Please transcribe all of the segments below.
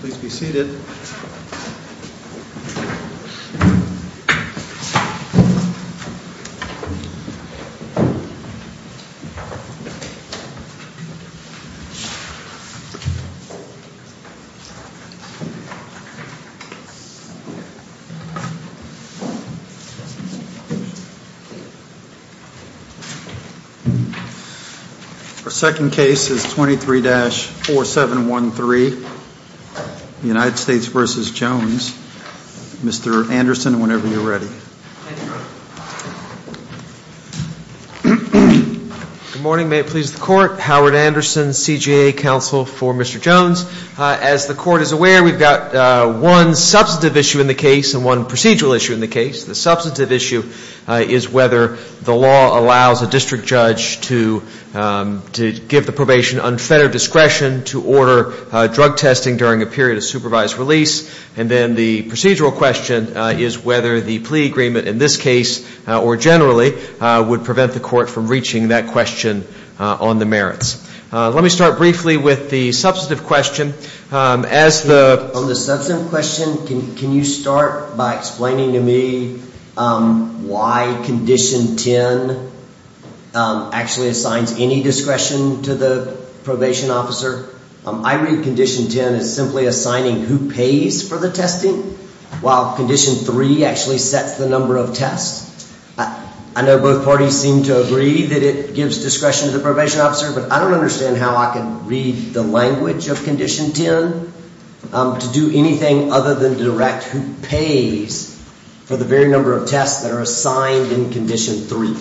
Please be seated. Our second case is 23-4713, United States v. Jones. Mr. Anderson, whenever you're ready. Good morning. May it please the Court. Howard Anderson, CJA counsel for Mr. Jones. As the Court is aware, we've got one substantive issue in the case and one procedural issue in the case. The substantive issue is whether the law allows a district judge to give the probation unfettered discretion to order drug testing during a period of supervised release. And then the procedural question is whether the plea agreement in this case, or generally, would prevent the Court from reaching that question on the merits. Let me start briefly with the substantive question. As the... On the substantive question, can you start by explaining to me why Condition 10 actually assigns any discretion to the probation officer? I read Condition 10 as simply assigning who pays for the testing, while Condition 3 actually sets the number of tests. I know both parties seem to agree that it gives discretion to the probation officer, but I don't understand how I can read the language of Condition 10 to do anything other than direct who pays for the very number of tests that are assigned in Condition 3.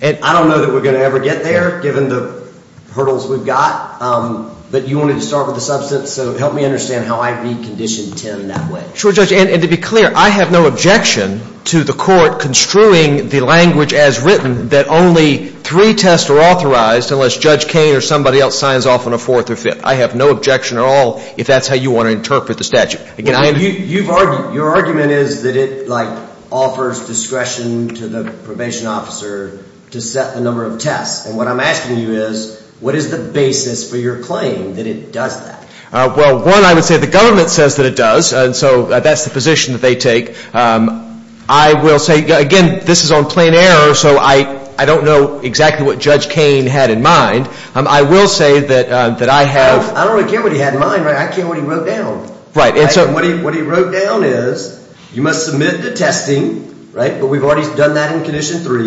And I don't know that we're going to ever get there, given the hurdles we've got. But you wanted to start with the substance, so help me understand how I read Condition 10 that way. Sure, Judge, and to be clear, I have no objection to the Court construing the language as written that only three tests are authorized unless Judge Cain or somebody else signs off on a fourth or fifth. I have no objection at all if that's how you want to interpret the statute. You've argued... Your argument is that it, like, offers discretion to the probation officer to set the number of tests, and what I'm asking you is, what is the basis for your claim that it does that? Well, one, I would say the government says that it does, and so that's the position that they take. I will say, again, this is on plain error, so I don't know exactly what Judge Cain had in mind. I will say that I have... I don't really care what he had in mind. I care what he wrote down. Right, and so... What he wrote down is, you must submit the testing, right, but we've already done that in Condition 3,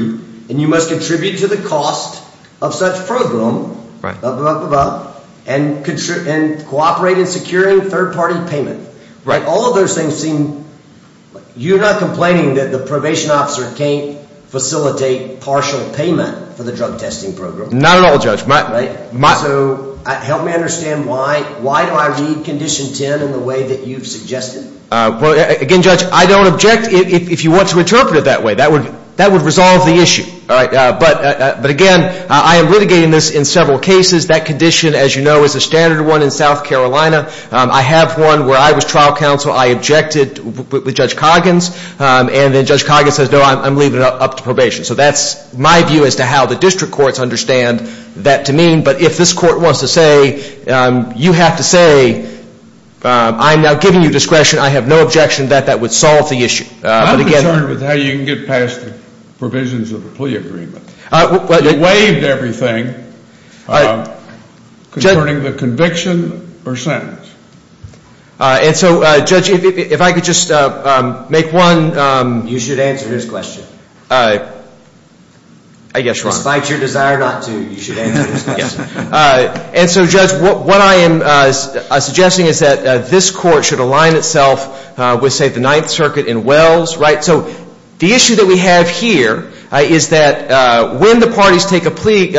and you must contribute to the cost of such program, blah, blah, blah, blah, blah, and cooperate in securing third-party payment. Right, all of those things seem... You're not complaining that the probation officer can't facilitate partial payment for the drug testing program? Not at all, Judge. So, help me understand why do I read Condition 10 in the way that you've suggested? Well, again, Judge, I don't object if you want to interpret it that way. That would resolve the issue, all right? But, again, I am litigating this in several cases. That condition, as you know, is a standard one in South Carolina. I have one where I was trial counsel. I objected with Judge Coggins, and then Judge Coggins says, no, I'm leaving it up to probation. So that's my view as to how the district courts understand that to mean. But if this court wants to say, you have to say, I'm now giving you discretion. I have no objection that that would solve the issue. I'm concerned with how you can get past the provisions of the plea agreement. You waived everything concerning the conviction or sentence. And so, Judge, if I could just make one... You should answer his question. I guess you're right. Despite your desire not to, you should answer his question. And so, Judge, what I am suggesting is that this court should align itself with, say, the Ninth Circuit in Wells, right? So the issue that we have here is that when the parties take a plea,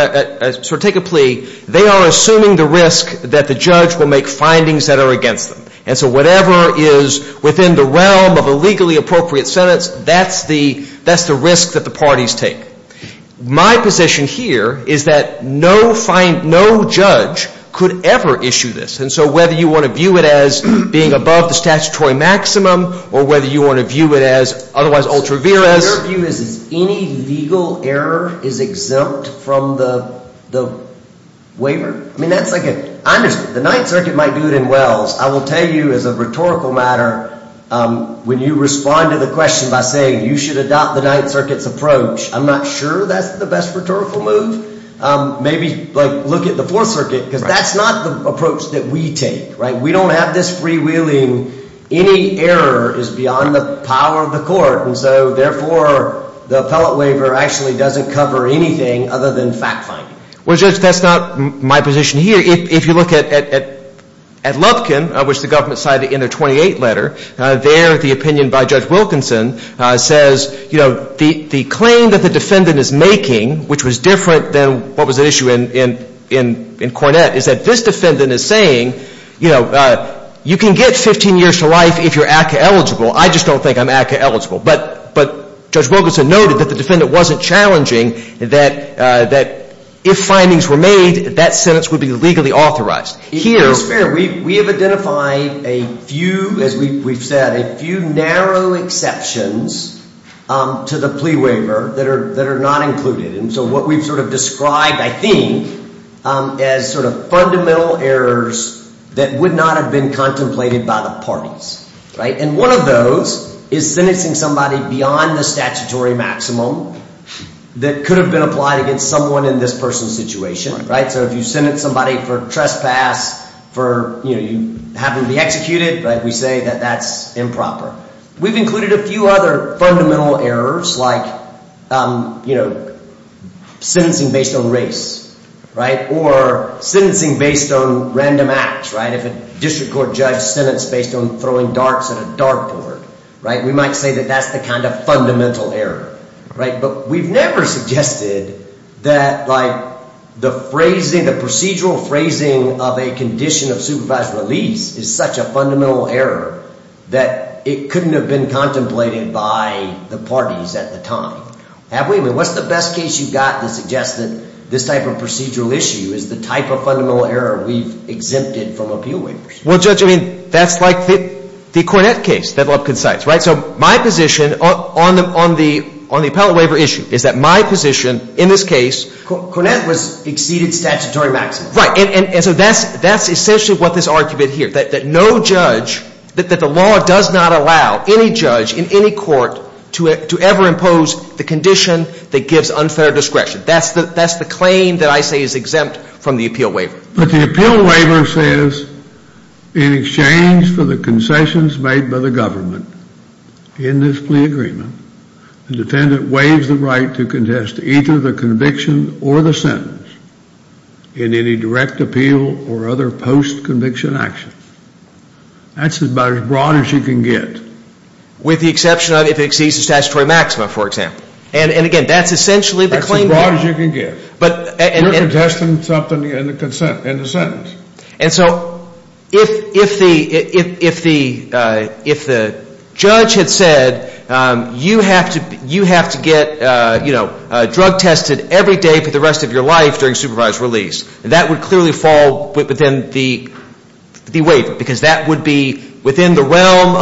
they are assuming the risk that the judge will make findings that are against them. And so whatever is within the realm of a legally appropriate sentence, that's the risk that the parties take. My position here is that no judge could ever issue this. And so whether you want to view it as being above the statutory maximum or whether you want to view it as otherwise ultra vires... Your view is that any legal error is exempt from the waiver? I mean, that's like a... The Ninth Circuit might do it in Wells. I will tell you as a rhetorical matter, when you respond to the question by saying you should adopt the Ninth Circuit's approach, I'm not sure that's the best rhetorical move. Maybe look at the Fourth Circuit because that's not the approach that we take, right? We don't have this freewheeling. Any error is beyond the power of the court. And so therefore, the appellate waiver actually doesn't cover anything other than fact-finding. Well, Judge, that's not my position here. If you look at Lubkin, which the government cited in their 28th letter, there, the opinion by Judge Wilkinson says, the claim that the defendant is making, which was different than what was at issue in Cornett, is that this defendant is saying, you know, you can get 15 years to life if you're ACCA-eligible. I just don't think I'm ACCA-eligible. But Judge Wilkinson noted that the defendant wasn't challenging that if findings were made, that sentence would be legally authorized. It's fair. We have identified a few, as we've said, a few narrow exceptions to the plea waiver that are not included. And so what we've sort of described, I think, as sort of fundamental errors that would not have been contemplated by the parties, right? And one of those is sentencing somebody beyond the statutory maximum that could have been applied against someone in this person's situation, right? So if you sentence somebody for trespass, for, you know, you happen to be executed, right? We say that that's improper. We've included a few other fundamental errors, like, you know, sentencing based on race, right? Or sentencing based on random acts, right? If a district court judge sentenced based on throwing darts at a dartboard, right? We might say that that's the kind of fundamental error, right? But we've never suggested that, like, the phrasing, the procedural phrasing of a condition of supervised release is such a fundamental error that it couldn't have been contemplated by the parties at the time, have we? I mean, what's the best case you've got that suggests that this type of procedural issue is the type of fundamental error we've exempted from appeal waivers? Well, Judge, I mean, that's like the Cornett case that Lubkin cites, right? So my position on the appellate waiver issue is that my position in this case... Cornett was exceeded statutory maximum. Right, and so that's essentially what this argument here, that no judge, that the law does not allow any judge in any court to ever impose the condition that gives unfair discretion. That's the claim that I say is exempt from the appeal waiver. But the appeal waiver says, in exchange for the concessions made by the government in this plea agreement, the defendant waives the right to contest either the conviction or the sentence in any direct appeal or other post-conviction action. That's about as broad as you can get. With the exception of if it exceeds the statutory maxima, for example. And again, that's essentially the claim... That's as broad as you can get. But... We're contesting something in the sentence. And so if the judge had said, you have to get drug tested every day for the rest of your life during supervised release, that would clearly fall within the waiver because that would be within the realm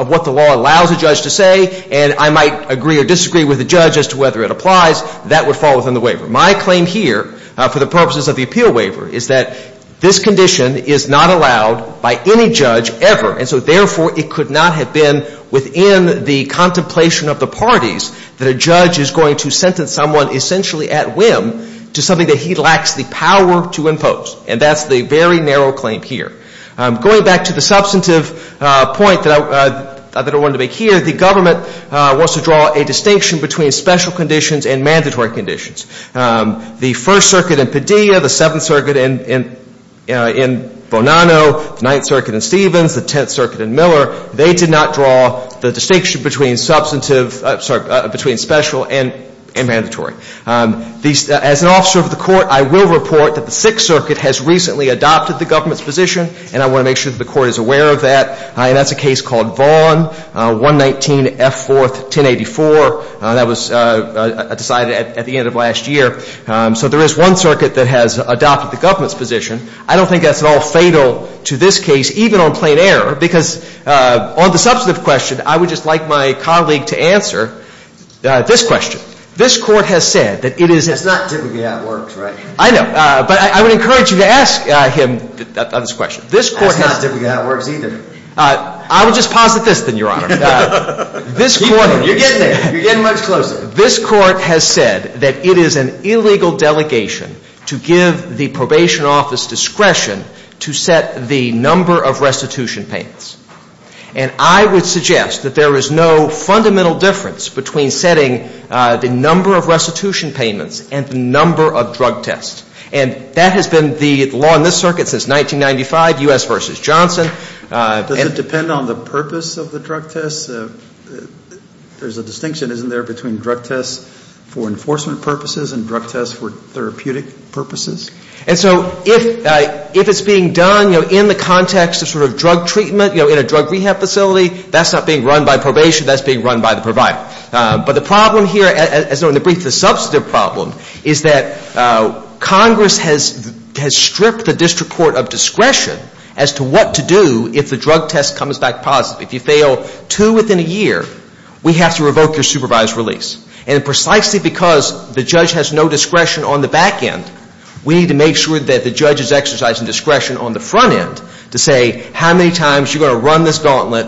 of what the law allows a judge to say. And I might agree or disagree with the judge as to whether it applies. That would fall within the waiver. My claim here, for the purposes of the appeal waiver, is that this condition is not allowed by any judge ever. And so therefore, it could not have been within the contemplation of the parties that a judge is going to sentence someone essentially at whim to something that he lacks the power to impose. And that's the very narrow claim here. Going back to the substantive point that I wanted to make here, the government wants to draw a distinction between special conditions and mandatory conditions. The First Circuit in Padilla, the Seventh Circuit in Bonanno, Ninth Circuit in Stevens, the Tenth Circuit in Miller, they did not draw the distinction between substantive... Sorry, between special and mandatory. As an officer of the court, I will report that the Sixth Circuit has recently adopted the government's position, and I want to make sure that the court is aware of that. And that's a case called Vaughn, 119F4-1084. That was decided at the end of last year. So there is one circuit that has adopted the government's position. I don't think that's at all fatal to this case, even on plain error, because on the substantive question, I would just like my colleague to answer this question. This court has said that it is... It's not typically how it works, right? I know, but I would encourage you to ask him this question. This court has... It's not typically how it works either. I would just posit this, then, Your Honor. This court... You're getting there. You're getting much closer. This court has said that it is an illegal delegation to give the probation office discretion to set the number of restitution payments. And I would suggest that there is no fundamental difference between setting the number of restitution payments and the number of drug tests. And that has been the law in this circuit since 1995, U.S. versus Johnson. Does it depend on the purpose of the drug tests? There's a distinction, isn't there, between drug tests for enforcement purposes and drug tests for therapeutic purposes? And so if it's being done, you know, in the context of sort of drug treatment, you know, in a drug rehab facility, that's not being run by probation. That's being run by the provider. But the problem here, as though in the brief, the substantive problem is that Congress has stripped the district court of discretion as to what to do if the drug test comes back positive. If you fail two within a year, we have to revoke your supervised release. And precisely because the judge has no discretion on the back end, we need to make sure that the judge is exercising discretion on the front end to say how many times you're gonna run this gauntlet.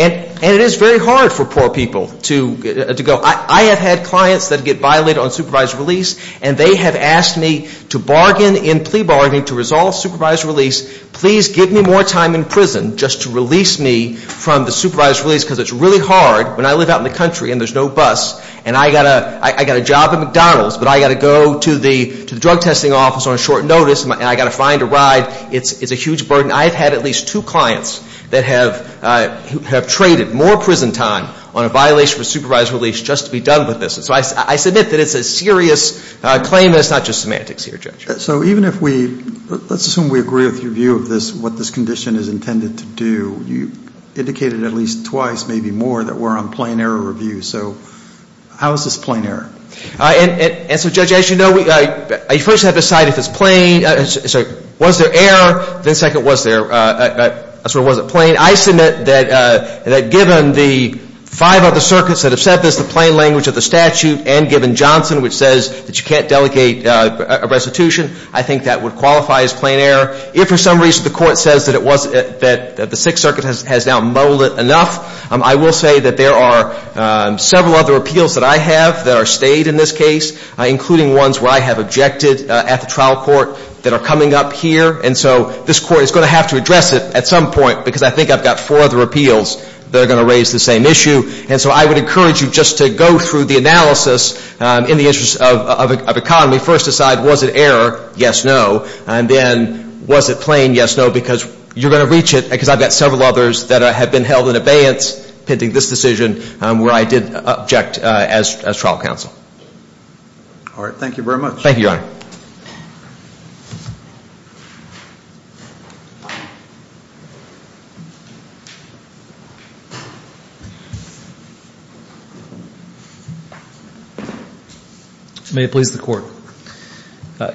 And it is very hard for poor people to go, I have had clients that get violated on supervised release and they have asked me to bargain in plea bargaining to resolve supervised release. Please give me more time in prison just to release me from the supervised release because it's really hard when I live out in the country and there's no bus and I got a job at McDonald's but I got to go to the drug testing office on a short notice and I got to find a ride. It's a huge burden. I've had at least two clients that have traded more prison time on a violation for supervised release just to be done with this. And so I submit that it's a serious claim and it's not just semantics here, Judge. So even if we, let's assume we agree with your view of this, what this condition is intended to do, you indicated at least twice, maybe more, that we're on plain error review. So how is this plain error? And so Judge, as you know, you first have to decide if it's plain, so was there error, then second, was it plain? I submit that given the five other circuits that have said this, the plain language of the statute and given Johnson, which says that you can't delegate a restitution, I think that would qualify as plain error. If for some reason the court says that the Sixth Circuit has now mulled it enough, I will say that there are several other appeals that I have that are stayed in this case, including ones where I have objected at the trial court that are coming up here. And so this court is going to have to address it at some point because I think I've got four other appeals that are going to raise the same issue. And so I would encourage you just to go through the analysis in the interest of economy. First decide, was it error? Yes, no. And then was it plain? Yes, no, because you're going to reach it because I've got several others that have been held in abeyance pending this decision where I did object as trial counsel. All right, thank you very much. Thank you, Your Honor. May it please the court.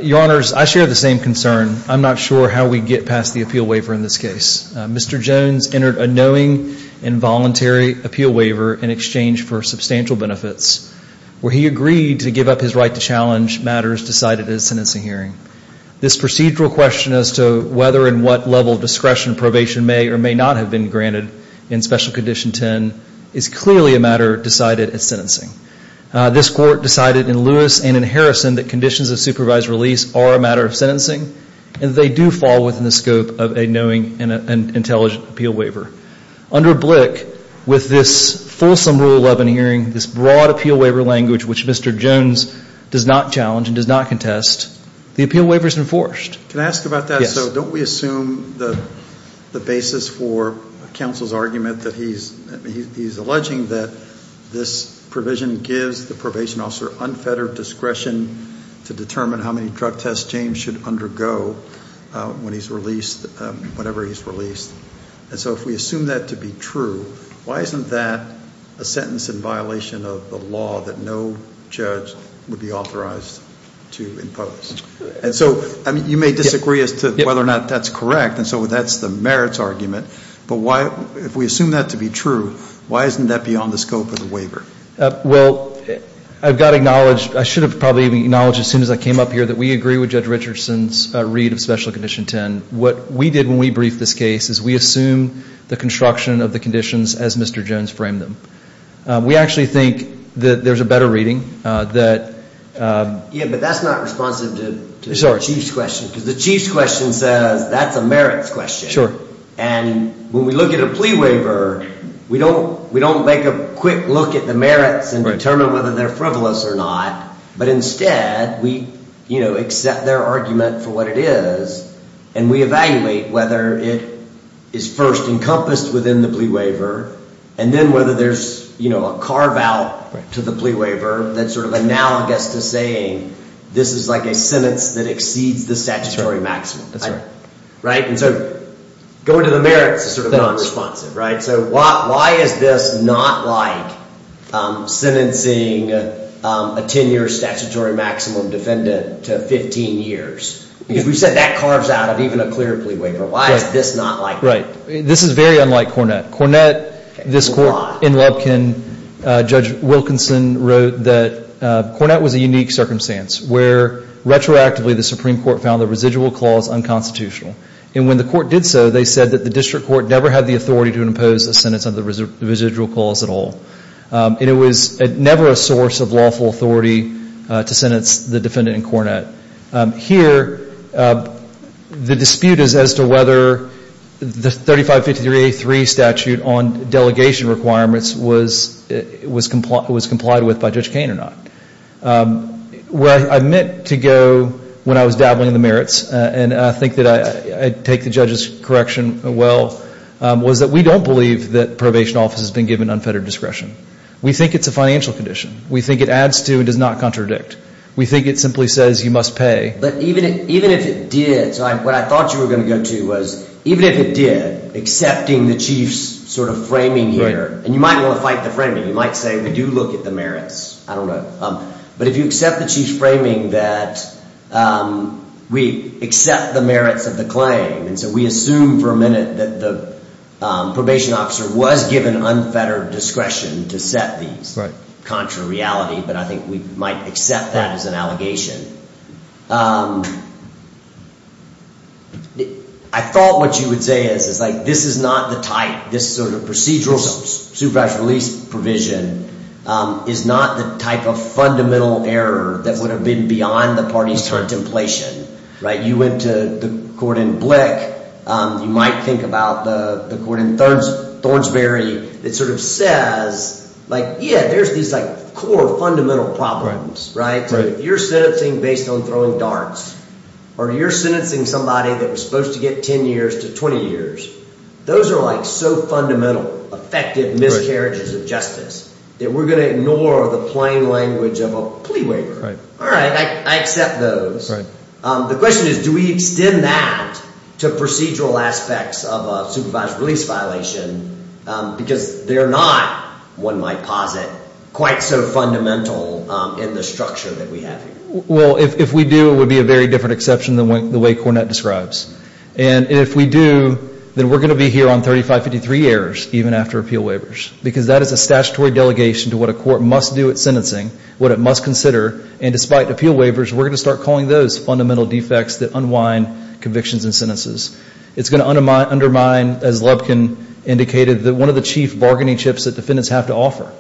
Your Honors, I share the same concern. I'm not sure how we get past the appeal waiver in this case. Mr. Jones entered a knowing and voluntary appeal waiver in exchange for substantial benefits where he agreed to give up his right to challenge matters decided at a sentencing hearing. This procedural question as to whether and what level of discretion probation may or may not have been granted in Special Condition 10 is clearly not a question for the court. It's clearly a matter decided at sentencing. This court decided in Lewis and in Harrison that conditions of supervised release are a matter of sentencing and they do fall within the scope of a knowing and intelligent appeal waiver. Under Blick, with this fulsome Rule 11 hearing, this broad appeal waiver language which Mr. Jones does not challenge and does not contest, the appeal waiver is enforced. Can I ask about that? So don't we assume the basis for counsel's argument that he's alleging that this provision gives the probation officer unfettered discretion to determine how many drug tests James should undergo when he's released, whenever he's released. And so if we assume that to be true, why isn't that a sentence in violation of the law that no judge would be authorized to impose? And so you may disagree as to whether or not that's correct and so that's the merits argument, but if we assume that to be true, why isn't that beyond the scope of the waiver? Well, I've got to acknowledge, I should have probably acknowledged as soon as I came up here that we agree with Judge Richardson's read of Special Condition 10. What we did when we briefed this case is we assume the construction of the conditions as Mr. Jones framed them. We actually think that there's a better reading that... Yeah, but that's not responsive to the Chief's question because the Chief's question says that's a merits question. Sure. And when we look at a plea waiver, we don't make a quick look at the merits and determine whether they're frivolous or not, but instead we accept their argument for what it is and we evaluate whether it is first encompassed within the plea waiver and then whether there's a carve out to the plea waiver that's sort of analogous to saying this is like a sentence that exceeds the statutory maximum. That's right. Right? And so going to the merits is sort of non-responsive. Right? So why is this not like sentencing a 10-year statutory maximum defendant to 15 years? Because we've said that carves out of even a clear plea waiver. Why is this not like that? Right. This is very unlike Cornett. Cornett, this court in Lepkin, Judge Wilkinson wrote that Cornett was a unique circumstance where retroactively the Supreme Court found the residual clause unconstitutional. And when the court did so, they said that the district court never had the authority to impose a sentence on the residual clause at all. And it was never a source of lawful authority to sentence the defendant in Cornett. Here, the dispute is as to whether the 3553A3 statute on delegation requirements was complied with by Judge Kane or not. Where I meant to go when I was dabbling in the merits, and I think that I take the judge's correction well, was that we don't believe that probation office has been given unfettered discretion. We think it's a financial condition. We think it adds to and does not contradict. We think it simply says you must pay. But even if it did, so what I thought you were going to go to was, even if it did, accepting the Chief's sort of framing here, and you might want to fight the framing. You might say, we do look at the merits. I don't know. But if you accept the Chief's framing that we accept the merits of the claim, and so we assume for a minute that the probation officer was given unfettered discretion to set these contrary reality, but I think we might accept that as an allegation. I thought what you would say is, is like this is not the type, this sort of procedural supervised release provision is not the type of fundamental error that would have been beyond the party's contemplation, right? You went to the court in Blick. You might think about the court in Thornsberry that sort of says like, yeah, there's these like core fundamental problems, right? You're sentencing based on throwing darts, or you're sentencing somebody that was supposed to get 10 years to 20 years. Those are like so fundamental, effective miscarriages of justice that we're gonna ignore the plain language of a plea waiver. All right, I accept those. The question is, do we extend that to procedural aspects of a supervised release violation because they're not, one might posit, quite so fundamental in the structure that we have here? Well, if we do, it would be a very different exception than the way Cornett describes. And if we do, then we're gonna be here on 3553 errors, even after appeal waivers, because that is a statutory delegation to what a court must do at sentencing, what it must consider. And despite appeal waivers, we're gonna start calling those fundamental defects that unwind convictions and sentences. It's gonna undermine, as Lubkin indicated, that one of the chief bargaining chips that defendants have to offer.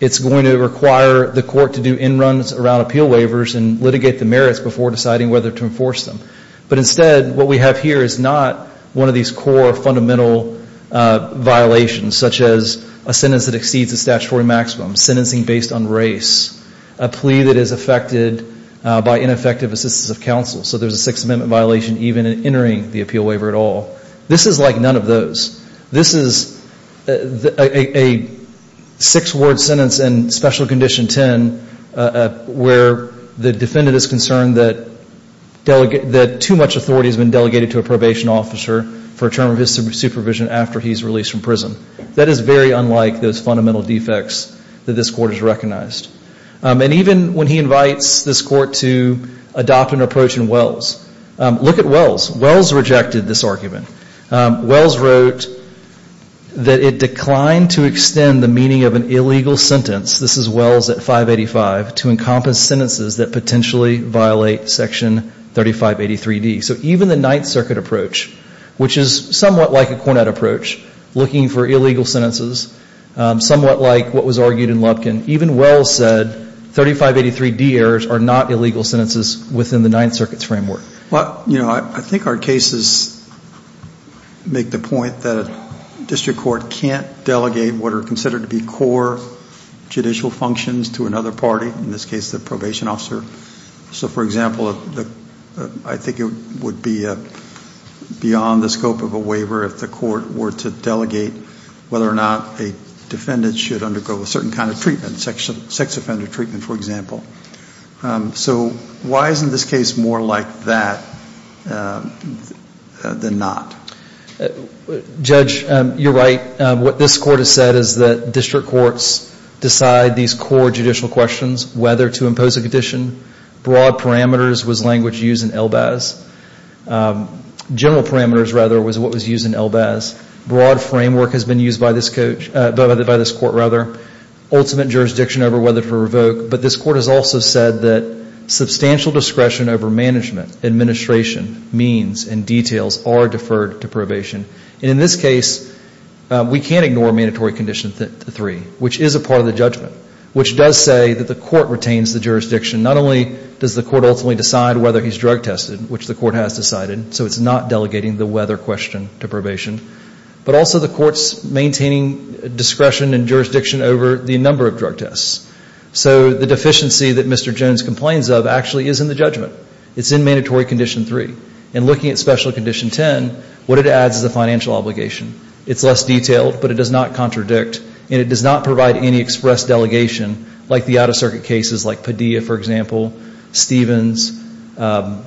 It's going to require the court to do end runs around appeal waivers and litigate the merits before deciding whether to enforce them. But instead, what we have here is not one of these core fundamental violations, such as a sentence that exceeds the statutory maximum, sentencing based on race, a plea that is affected by ineffective assistance of counsel. So there's a Sixth Amendment violation even in entering the appeal waiver at all. This is like none of those. This is a six-word sentence in Special Condition 10 where the defendant is concerned that too much authority has been delegated to a probation officer for a term of his supervision after he's released from prison. That is very unlike those fundamental defects that this court has recognized. And even when he invites this court to adopt an approach in Wells, look at Wells. Wells rejected this argument. Wells wrote that it declined to extend the meaning of an illegal sentence, this is Wells at 585, to encompass sentences that potentially violate Section 3583D. So even the Ninth Circuit approach, which is somewhat like a Cornett approach, looking for illegal sentences, somewhat like what was argued in Lubkin, even Wells said 3583D errors are not illegal sentences within the Ninth Circuit's framework. Well, you know, I think our cases make the point that a district court can't delegate what are considered to be core judicial functions to another party, in this case, the probation officer. So for example, I think it would be beyond the scope of a waiver if the court were to delegate whether or not a defendant should undergo a certain kind of treatment, sex offender treatment, for example. So why isn't this case more like that than not? Judge, you're right. What this court has said is that district courts decide these core judicial questions, whether to impose a condition. Broad parameters was language used in Elbaz. General parameters, rather, was what was used in Elbaz. Broad framework has been used by this court, rather. Ultimate jurisdiction over whether to revoke. But this court has also said that substantial discretion over management, administration, means, and details are deferred to probation. And in this case, we can't ignore mandatory condition three, which is a part of the judgment, which does say that the court retains the jurisdiction. Not only does the court ultimately decide whether he's drug tested, which the court has decided, so it's not delegating the whether question to probation, but also the court's maintaining discretion and jurisdiction over the number of drug tests. So the deficiency that Mr. Jones complains of actually is in the judgment. It's in mandatory condition three. And looking at special condition 10, what it adds is a financial obligation. It's less detailed, but it does not contradict, and it does not provide any express delegation, like the out-of-circuit cases like Padilla, for example, Stevens, Bonanno,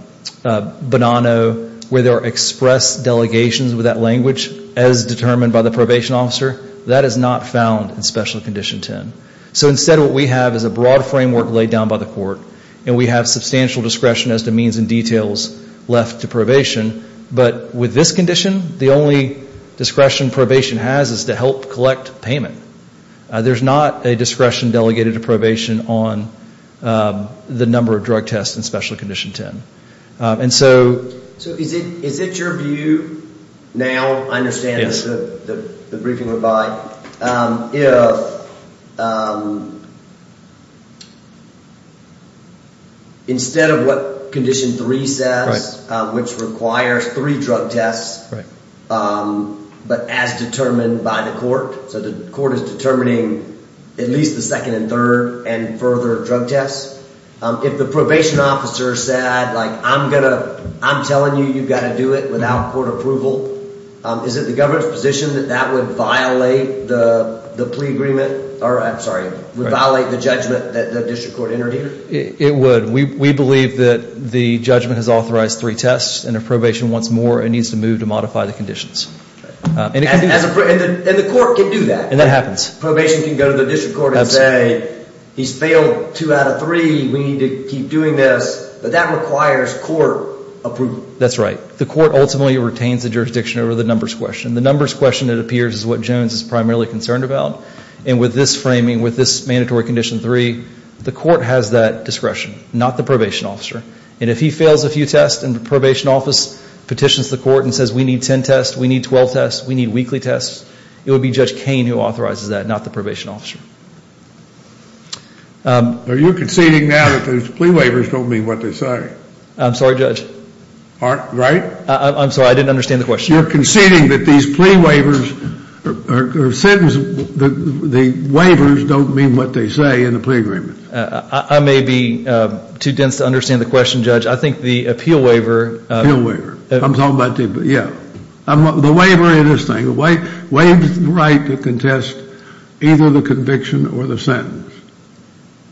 where there are express delegations with that language as determined by the probation officer. That is not found in special condition 10. So instead, what we have is a broad framework laid down by the court, and we have substantial discretion as to means and details left to probation. But with this condition, the only discretion probation has is to help collect payment. There's not a discretion delegated to probation on the number of drug tests in special condition 10. And so... So is it your view now? I understand that the briefing went by. Instead of what condition three says, which requires three drug tests, but as determined by the court, so the court is determining at least the second and third and further drug tests. If the probation officer said, like, I'm telling you you've got to do it without court approval, is it the government's position that that would violate the plea agreement? Or, I'm sorry, would violate the judgment that the district court entered here? It would. We believe that the judgment has authorized three tests, and if probation wants more, it needs to move to modify the conditions. And the court can do that. And that happens. Probation can go to the district court and say, he's failed two out of three, we need to keep doing this, but that requires court approval. That's right. The court ultimately retains the jurisdiction over the numbers question. The numbers question, it appears, is what Jones is primarily concerned about. And with this framing, with this mandatory condition three, the court has that discretion, not the probation officer. And if he fails a few tests, and the probation office petitions the court and says, we need 10 tests, we need 12 tests, we need weekly tests, it would be Judge Koehn who authorizes that, not the probation officer. Are you conceding now that those plea waivers don't mean what they say? I'm sorry, Judge. Right? I'm sorry, I didn't understand the question. You're conceding that these plea waivers, the waivers don't mean what they say in the plea agreement. I may be too dense to understand the question, Judge. I think the appeal waiver. Appeal waiver. I'm talking about the, yeah. The waiver in this thing, waives the right to contest either the conviction or the sentence.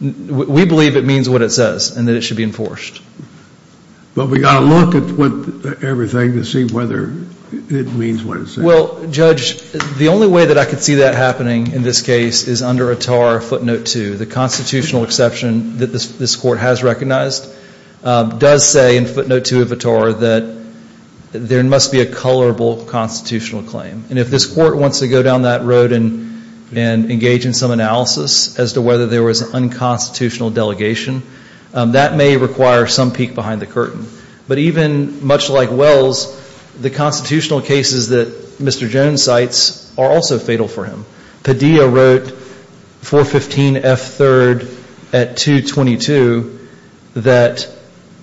We believe it means what it says, and that it should be enforced. But we gotta look at everything to see whether it means what it says. Well, Judge, the only way that I could see that happening in this case is under a tar footnote two, the constitutional exception that this court has recognized does say in footnote two of a tar that there must be a colorable constitutional claim. And if this court wants to go down that road and engage in some analysis as to whether there was an unconstitutional delegation, that may require some peek behind the curtain. But even much like Wells, the constitutional cases that Mr. Jones cites are also fatal for him. Padilla wrote 415 F. 3rd at 2. 22 that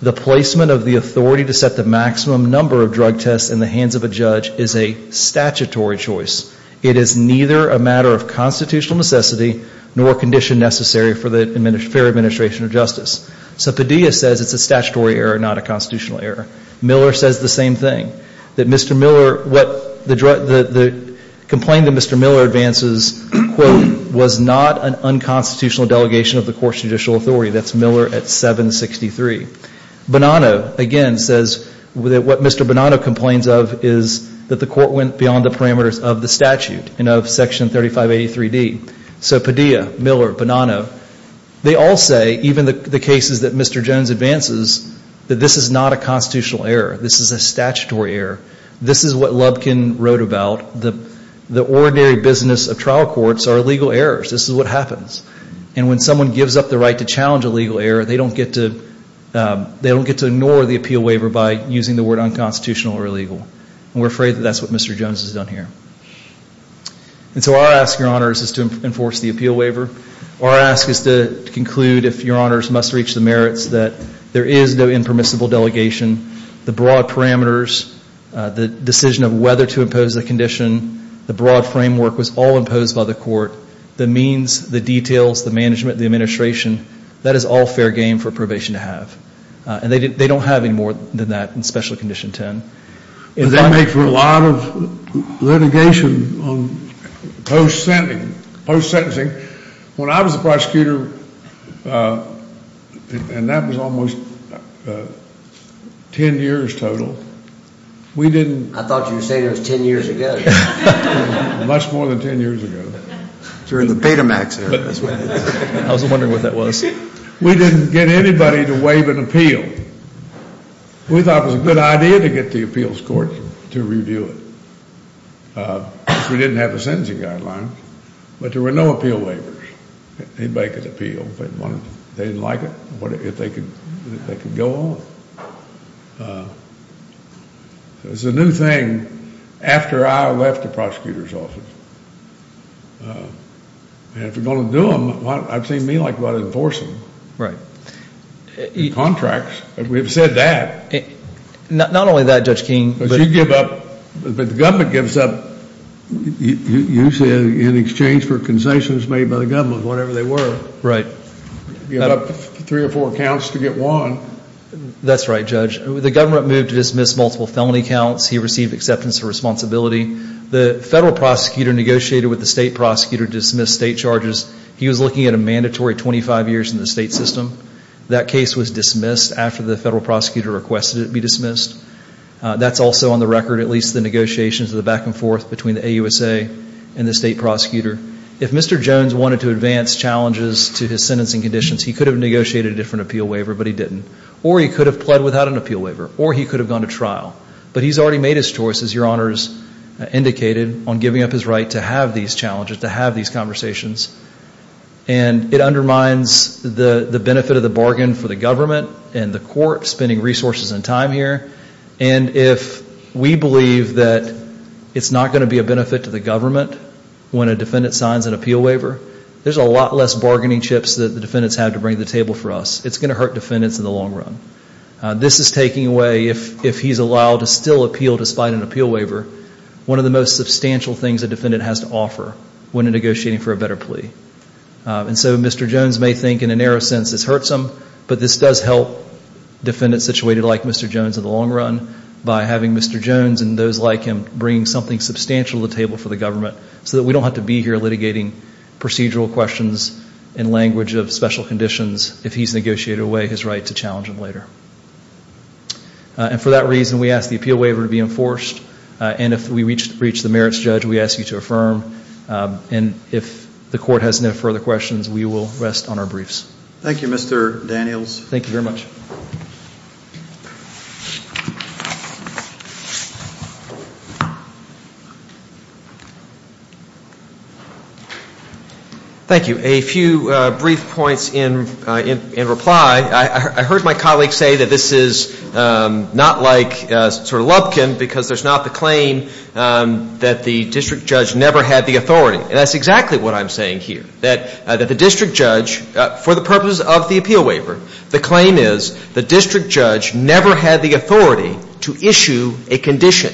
the placement of the authority to set the maximum number of drug tests in the hands of a judge is a statutory choice. It is neither a matter of constitutional necessity nor condition necessary for the fair administration of justice. So Padilla says it's a statutory error, not a constitutional error. Miller says the same thing. That Mr. Miller, what the complaint that Mr. Miller advances, quote, was not an unconstitutional delegation of the court's judicial authority. That's Miller at 763. Bonanno, again, says that what Mr. Bonanno complains of is that the court went beyond the parameters of the statute and of section 3583D. So Padilla, Miller, Bonanno, they all say, even the cases that Mr. Jones advances, that this is not a constitutional error. This is a statutory error. This is what Lubkin wrote about. The ordinary business of trial courts are legal errors. This is what happens. And when someone gives up the right to challenge a legal error, they don't get to ignore the appeal waiver by using the word unconstitutional or illegal. And we're afraid that that's what Mr. Jones has done here. And so our ask, Your Honors, is to enforce the appeal waiver. Our ask is to conclude, if Your Honors must reach the merits, that there is no impermissible delegation, the broad parameters, the decision of whether to impose the condition, the broad framework was all imposed by the court, the means, the details, the management, the administration, that is all fair game for probation to have. And they don't have any more than that in Special Condition 10. They make for a lot of litigation on post-sentencing. When I was a prosecutor, and that was almost 10 years total, we didn't... I thought you were saying it was 10 years ago. Much more than 10 years ago. During the Betamax era. I was wondering what that was. We didn't get anybody to waive an appeal. We thought it was a good idea to get the appeals court to review it. We didn't have a sentencing guideline, but there were no appeal waivers. Anybody could appeal if they wanted to. If they didn't like it, if they could go on. It was a new thing after I left the prosecutor's office. And if you're going to do them, I've seen me enforce them. Contracts. We've said that. Not only that, Judge King. But you give up, but the government gives up usually in exchange for concessions made by the government, whatever they were. Right. Give up three or four counts to get one. That's right, Judge. The government moved to dismiss multiple felony counts. He received acceptance of responsibility. The federal prosecutor negotiated with the state prosecutor to dismiss state charges. He was looking at a mandatory 25 years in the state system. That case was dismissed after the federal prosecutor requested it be dismissed. That's also on the record, at least the negotiations, the back and forth between the AUSA and the state prosecutor. If Mr. Jones wanted to advance challenges to his sentencing conditions, he could have negotiated a different appeal waiver, but he didn't. Or he could have pled without an appeal waiver. Or he could have gone to trial. But he's already made his choice, as your honors indicated, on giving up his right to have these challenges, to have these conversations. And it undermines the benefit of the bargain for the government and the court spending resources and time here. And if we believe that it's not going to be a benefit to the government when a defendant signs an appeal waiver, there's a lot less bargaining chips that the defendants have to bring to the table for us. It's going to hurt defendants in the long run. This is taking away, if he's allowed to still appeal despite an appeal waiver, one of the most substantial things a defendant has to offer when negotiating for a better plea. And so Mr. Jones may think in a narrow sense it's hurt some, but this does help defendants situated like Mr. Jones in the long run by having Mr. Jones and those like him bringing something substantial to the table for the government so that we don't have to be here litigating procedural questions in language of special conditions if he's negotiated away his right to challenge them later. And for that reason, we ask the appeal waiver to be enforced. And if we reach the merits judge, we ask you to affirm. And if the court has no further questions, we will rest on our briefs. Thank you, Mr. Daniels. Thank you very much. Thank you. A few brief points in reply. I heard my colleague say that this is not like sort of Lubkin because there's not the claim that the district judge never had the authority. And that's exactly what I'm saying here. That the district judge, for the purpose of the appeal waiver, the claim is the district judge never had the authority to issue a condition.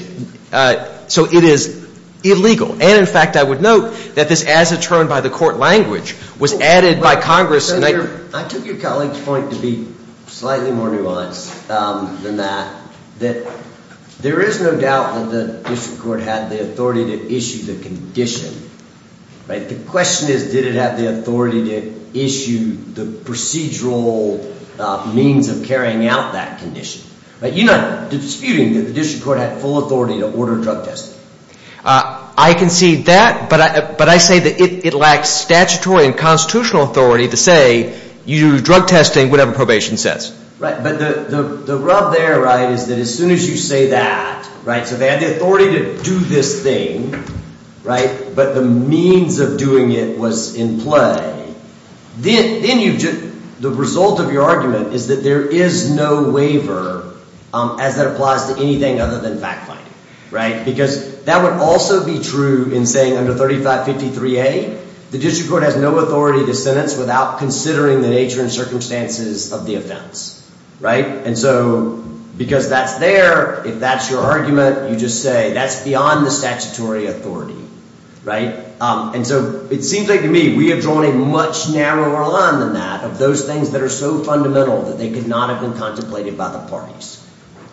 So it is illegal. And in fact, I would note that this as a term by the court language was added by Congress. I took your colleague's point to be slightly more nuanced than that. That there is no doubt that the district court had the authority to issue the condition. But the question is, did it have the authority to issue the procedural means of carrying out that condition? You're not disputing that the district court had full authority to order drug testing. I concede that, but I say that it lacks statutory and constitutional authority to say you do drug testing whatever probation says. Right, but the rub there, right, is that as soon as you say that, right, so they had the authority to do this thing, right, but the means of doing it was in play. Then the result of your argument is that there is no waiver as that applies to anything other than fact-finding, right? Because that would also be true in saying under 3553A, the district court has no authority to sentence without considering the nature and circumstances of the offense, right? And so because that's there, if that's your argument, you just say that's beyond the statutory authority, right? And so it seems like to me we have drawn a much narrower line than that of those things that are so fundamental that they could not have been contemplated by the parties.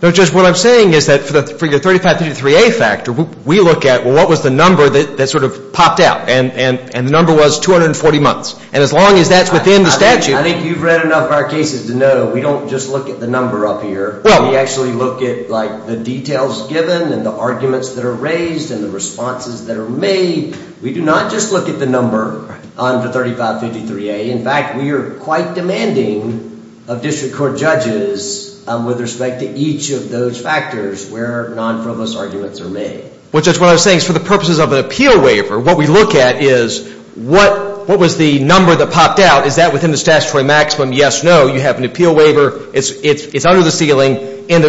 No, just what I'm saying is that for your 3553A factor, we look at, well, what was the number that sort of popped out? And the number was 240 months. And as long as that's within the statute. I think you've read enough of our cases to know we don't just look at the number up here. We actually look at, like, the details given and the arguments that are raised and the responses that are made. We do not just look at the number under 3553A. In fact, we are quite demanding of district court judges with respect to each of those factors where non-frivolous arguments are made. Well, Judge, what I was saying is for the purposes of an appeal waiver, what we look at is what was the number that popped out? Is that within the statutory maximum? Yes, no. You have an appeal waiver. It's under the ceiling, end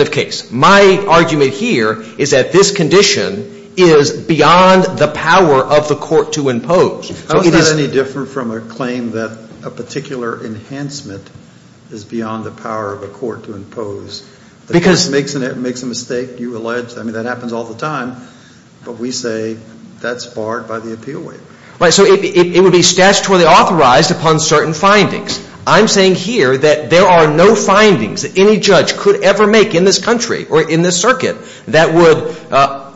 of case. My argument here is that this condition is beyond the power of the court to impose. Is that any different from a claim that a particular enhancement is beyond the power of a court to impose? Because it makes a mistake, you allege. I mean, that happens all the time. But we say that's barred by the appeal waiver. Right, so it would be statutorily authorized upon certain findings. I'm saying here that there are no findings that any judge could ever make in this country or in this circuit that would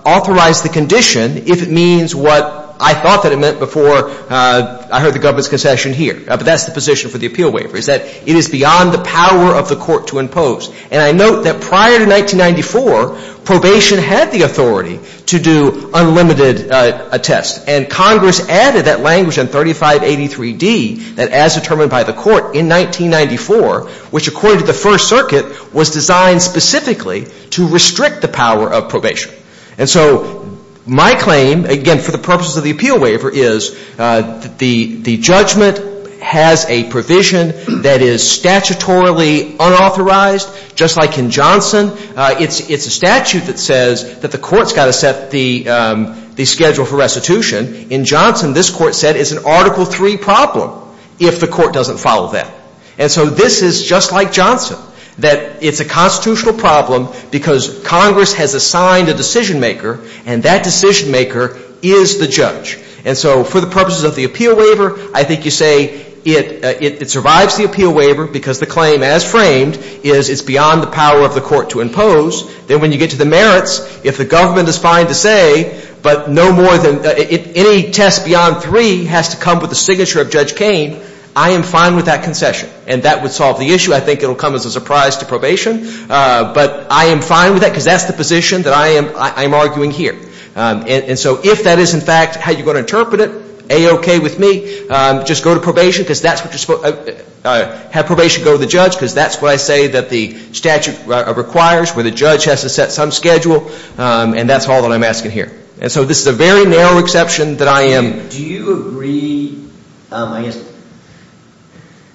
authorize the condition if it means what I thought that it meant before I heard the government's concession here. But that's the position for the appeal waiver is that it is beyond the power of the court to impose. And I note that prior to 1994, probation had the authority to do unlimited tests. And Congress added that language in 3583D that as determined by the court in 1994, which according to the First Circuit, was designed specifically to restrict the power of probation. And so my claim, again, for the purposes of the appeal waiver is the judgment has a provision that is statutorily unauthorized, just like in Johnson. It's a statute that says that the court's got to set the schedule for restitution. In Johnson, this court said it's an Article III problem if the court doesn't follow that. And so this is just like Johnson, that it's a constitutional problem because Congress has assigned a decision maker, and that decision maker is the judge. And so for the purposes of the appeal waiver, I think you say it survives the appeal waiver because the claim, as framed, is it's beyond the power of the court to impose. Then when you get to the merits, if the government is fine to say, but no more than any test beyond III has to come with the signature of Judge Kane, I am fine with that concession. And that would solve the issue. I think it will come as a surprise to probation. But I am fine with that because that's the position that I am arguing here. And so if that is, in fact, how you're going to interpret it, A-OK with me. Just go to probation because that's what you're supposed to, have probation go to the judge because that's what I say that the statute requires, where the judge has to set some schedule. And that's all that I'm asking here. And so this is a very narrow exception that I am. Do you agree, I guess,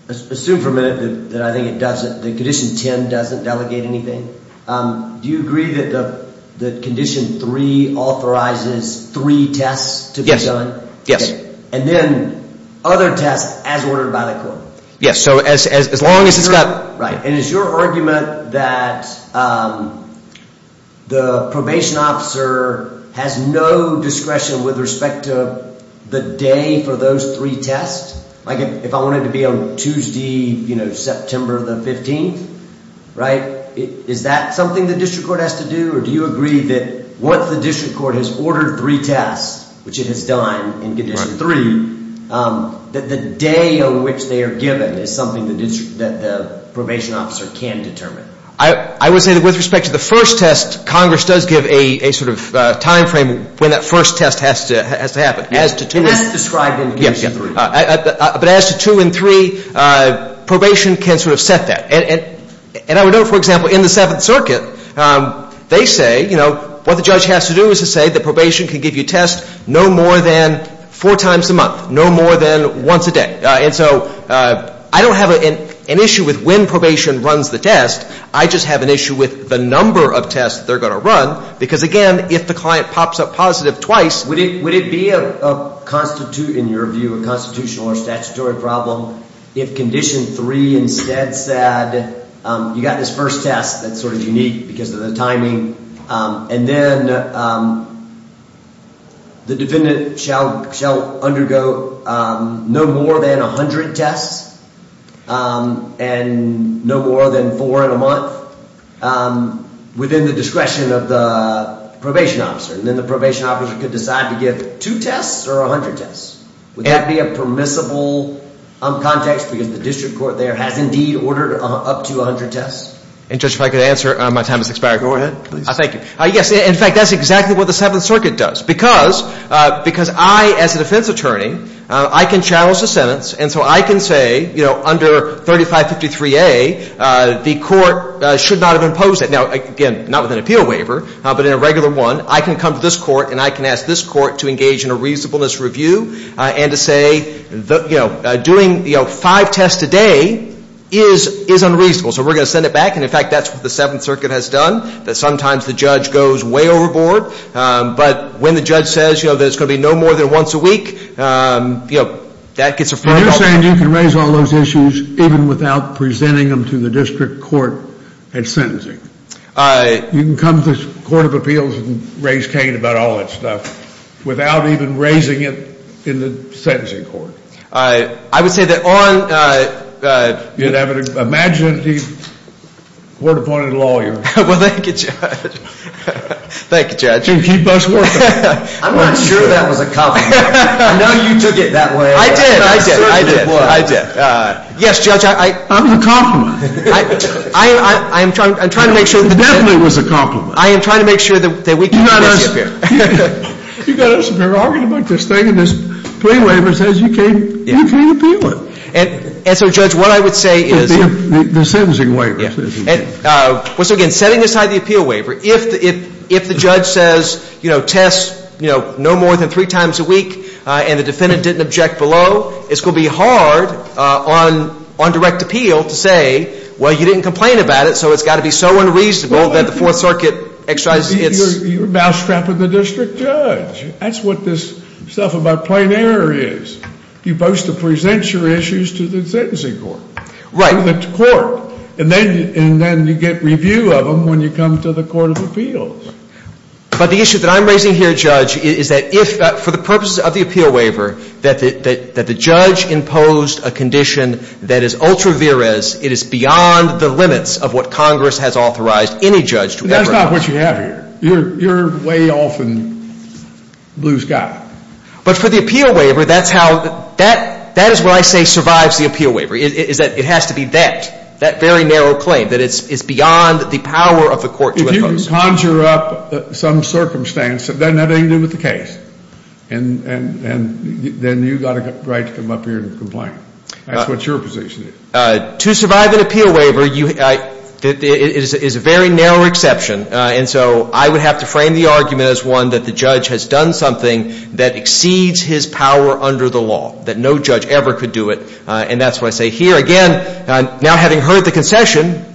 assume for a minute that I think it doesn't, that Condition 10 doesn't delegate anything. Do you agree that Condition 3 authorizes three tests to be done? Yes. And then other tests as ordered by the court? Yes, so as long as it's not- Right, and is your argument that the probation officer has no discretion with respect to the day for those three tests? Like if I wanted to be on Tuesday, you know, September the 15th, right? Is that something the district court has to do? Or do you agree that once the district court has ordered three tests, which it has done in Condition 3, that the day on which they are given is something that the probation officer can determine? I would say that with respect to the first test, Congress does give a sort of time frame when that first test has to happen. And that's described in Condition 3. But as to 2 and 3, probation can sort of set that. And I would note, for example, in the Seventh Circuit, they say, you know, what the judge has to do is to say that probation can give you tests no more than four times a month, no more than once a day. And so I don't have an issue with when probation runs the test. I just have an issue with the number of tests they're going to run. Because again, if the client pops up positive twice- Would it be, in your view, a constitutional or statutory problem if Condition 3 instead said, you got this first test that's sort of unique because of the timing, and then the defendant shall undergo no more than 100 tests, and no more than four in a month, within the discretion of the probation officer? And then the probation officer could decide to give two tests or 100 tests? Would that be a permissible context? Because the district court there has indeed ordered up to 100 tests. And Judge, if I could answer, my time has expired. Go ahead, please. Thank you. Yes. In fact, that's exactly what the Seventh Circuit does. Because I, as a defense attorney, I can challenge the sentence, and so I can say, you know, under 3553A, the court should not have imposed it. Now, again, not with an appeal waiver, but in a regular one. I can come to this court, and I can ask this court to engage in a reasonableness review, and to say, you know, doing five tests a day is unreasonable. So we're going to send it back. And, in fact, that's what the Seventh Circuit has done, that sometimes the judge goes way overboard. But when the judge says, you know, that it's going to be no more than once a week, you know, that gets a fair result. But you're saying you can raise all those issues even without presenting them to the district court at sentencing? You can come to the Court of Appeals and raise Cain about all that stuff without even raising it in the sentencing court? I would say that on. You'd have to imagine the court-appointed lawyer. Well, thank you, Judge. Thank you, Judge. You can keep us working. I'm not sure that was a compliment. I know you took it that way. I did, I did, I did, I did. Yes, Judge, I. That was a compliment. I am trying to make sure. It definitely was a compliment. I am trying to make sure that we can. You got us, and we're arguing about this thing, and this plea waiver says you can't appeal it. And so, Judge, what I would say is. The sentencing waiver says you can't. Once again, setting aside the appeal waiver, if the judge says, you know, test no more than three times a week, and the defendant didn't object below, it's going to be hard on direct appeal to say, well, you didn't complain about it, so it's got to be so unreasonable that the Fourth Circuit exercises its. You're a mousetrap of the district judge. That's what this stuff about plain error is. You boast to present your issues to the sentencing court. To the court. And then you get review of them when you come to the Court of Appeals. But the issue that I'm raising here, Judge, is that if, for the purposes of the appeal waiver, that the judge imposed a condition that is ultra vires, it is beyond the limits of what Congress has authorized any judge to ever ask. That's not what you have here. You're way off in blue sky. But for the appeal waiver, that's how, that is what I say survives the appeal waiver, is that it has to be that, that very narrow claim, that it's beyond the power of the court to impose. If you conjure up some circumstance, then that ain't new with the case. And then you've got a right to come up here and complain. That's what your position is. To survive an appeal waiver, it is a very narrow exception. And so I would have to frame the argument as one that the judge has done something that exceeds his power under the law, that no judge ever could do it. And that's why I say here, again, now having heard the concession,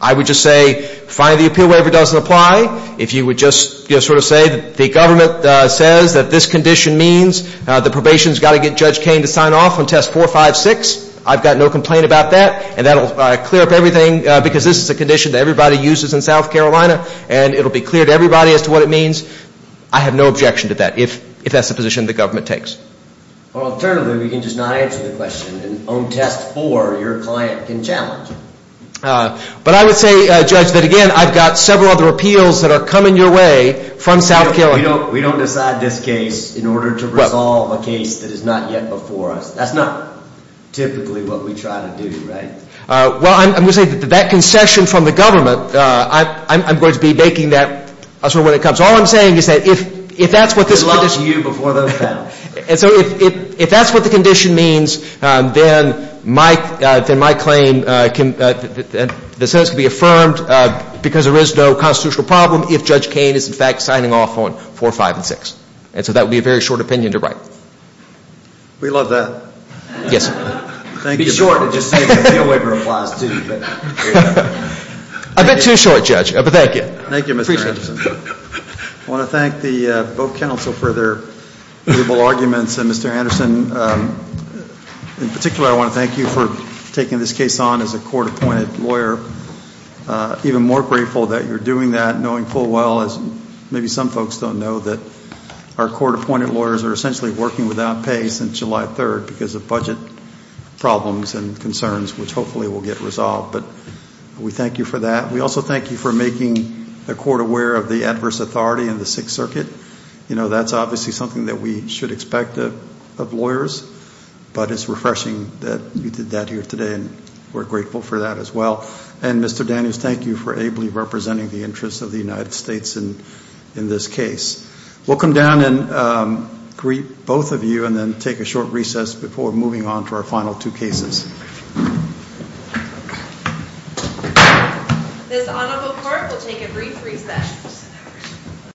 I would just say, fine, the appeal waiver doesn't apply. If you would just, you know, sort of say that the government says that this condition means the probation's got to get Judge Kaine to sign off on test 456, I've got no complaint about that. And that'll clear up everything, because this is a condition that everybody uses in South Carolina, and it'll be clear to everybody as to what it means. I have no objection to that. If that's the position the government takes. Well, alternatively, we can just not answer the question, and on test four, your client can challenge. But I would say, Judge, that again, I've got several other appeals that are coming your way from South Carolina. We don't decide this case in order to resolve a case that is not yet before us. That's not typically what we try to do, right? Well, I'm going to say that that concession from the government, I'm going to be making that when it comes. So all I'm saying is that if that's what this condition means, then my claim can be affirmed because there is no constitutional problem if Judge Kaine is, in fact, signing off on 456. And so that would be a very short opinion to write. We love that. Yes, sir. Thank you. Be short, just so you can pay a waiver of applause, too. A bit too short, Judge, but thank you. Thank you, Mr. Anderson. I want to thank the Boat Council for their valuable arguments. And Mr. Anderson, in particular, I want to thank you for taking this case on as a court-appointed lawyer. Even more grateful that you're doing that, knowing full well, as maybe some folks don't know, that our court-appointed lawyers are essentially working without pay since July 3rd because of budget problems and concerns, which hopefully will get resolved. But we thank you for that. We also thank you for making the court aware of the adverse authority in the Sixth Circuit. You know, that's obviously something that we should expect of lawyers, but it's refreshing that you did that here today, and we're grateful for that as well. And Mr. Daniels, thank you for ably representing the interests of the United States in this case. We'll come down and greet both of you and then take a short recess before moving on to our final two cases. This audible court will take a brief recess.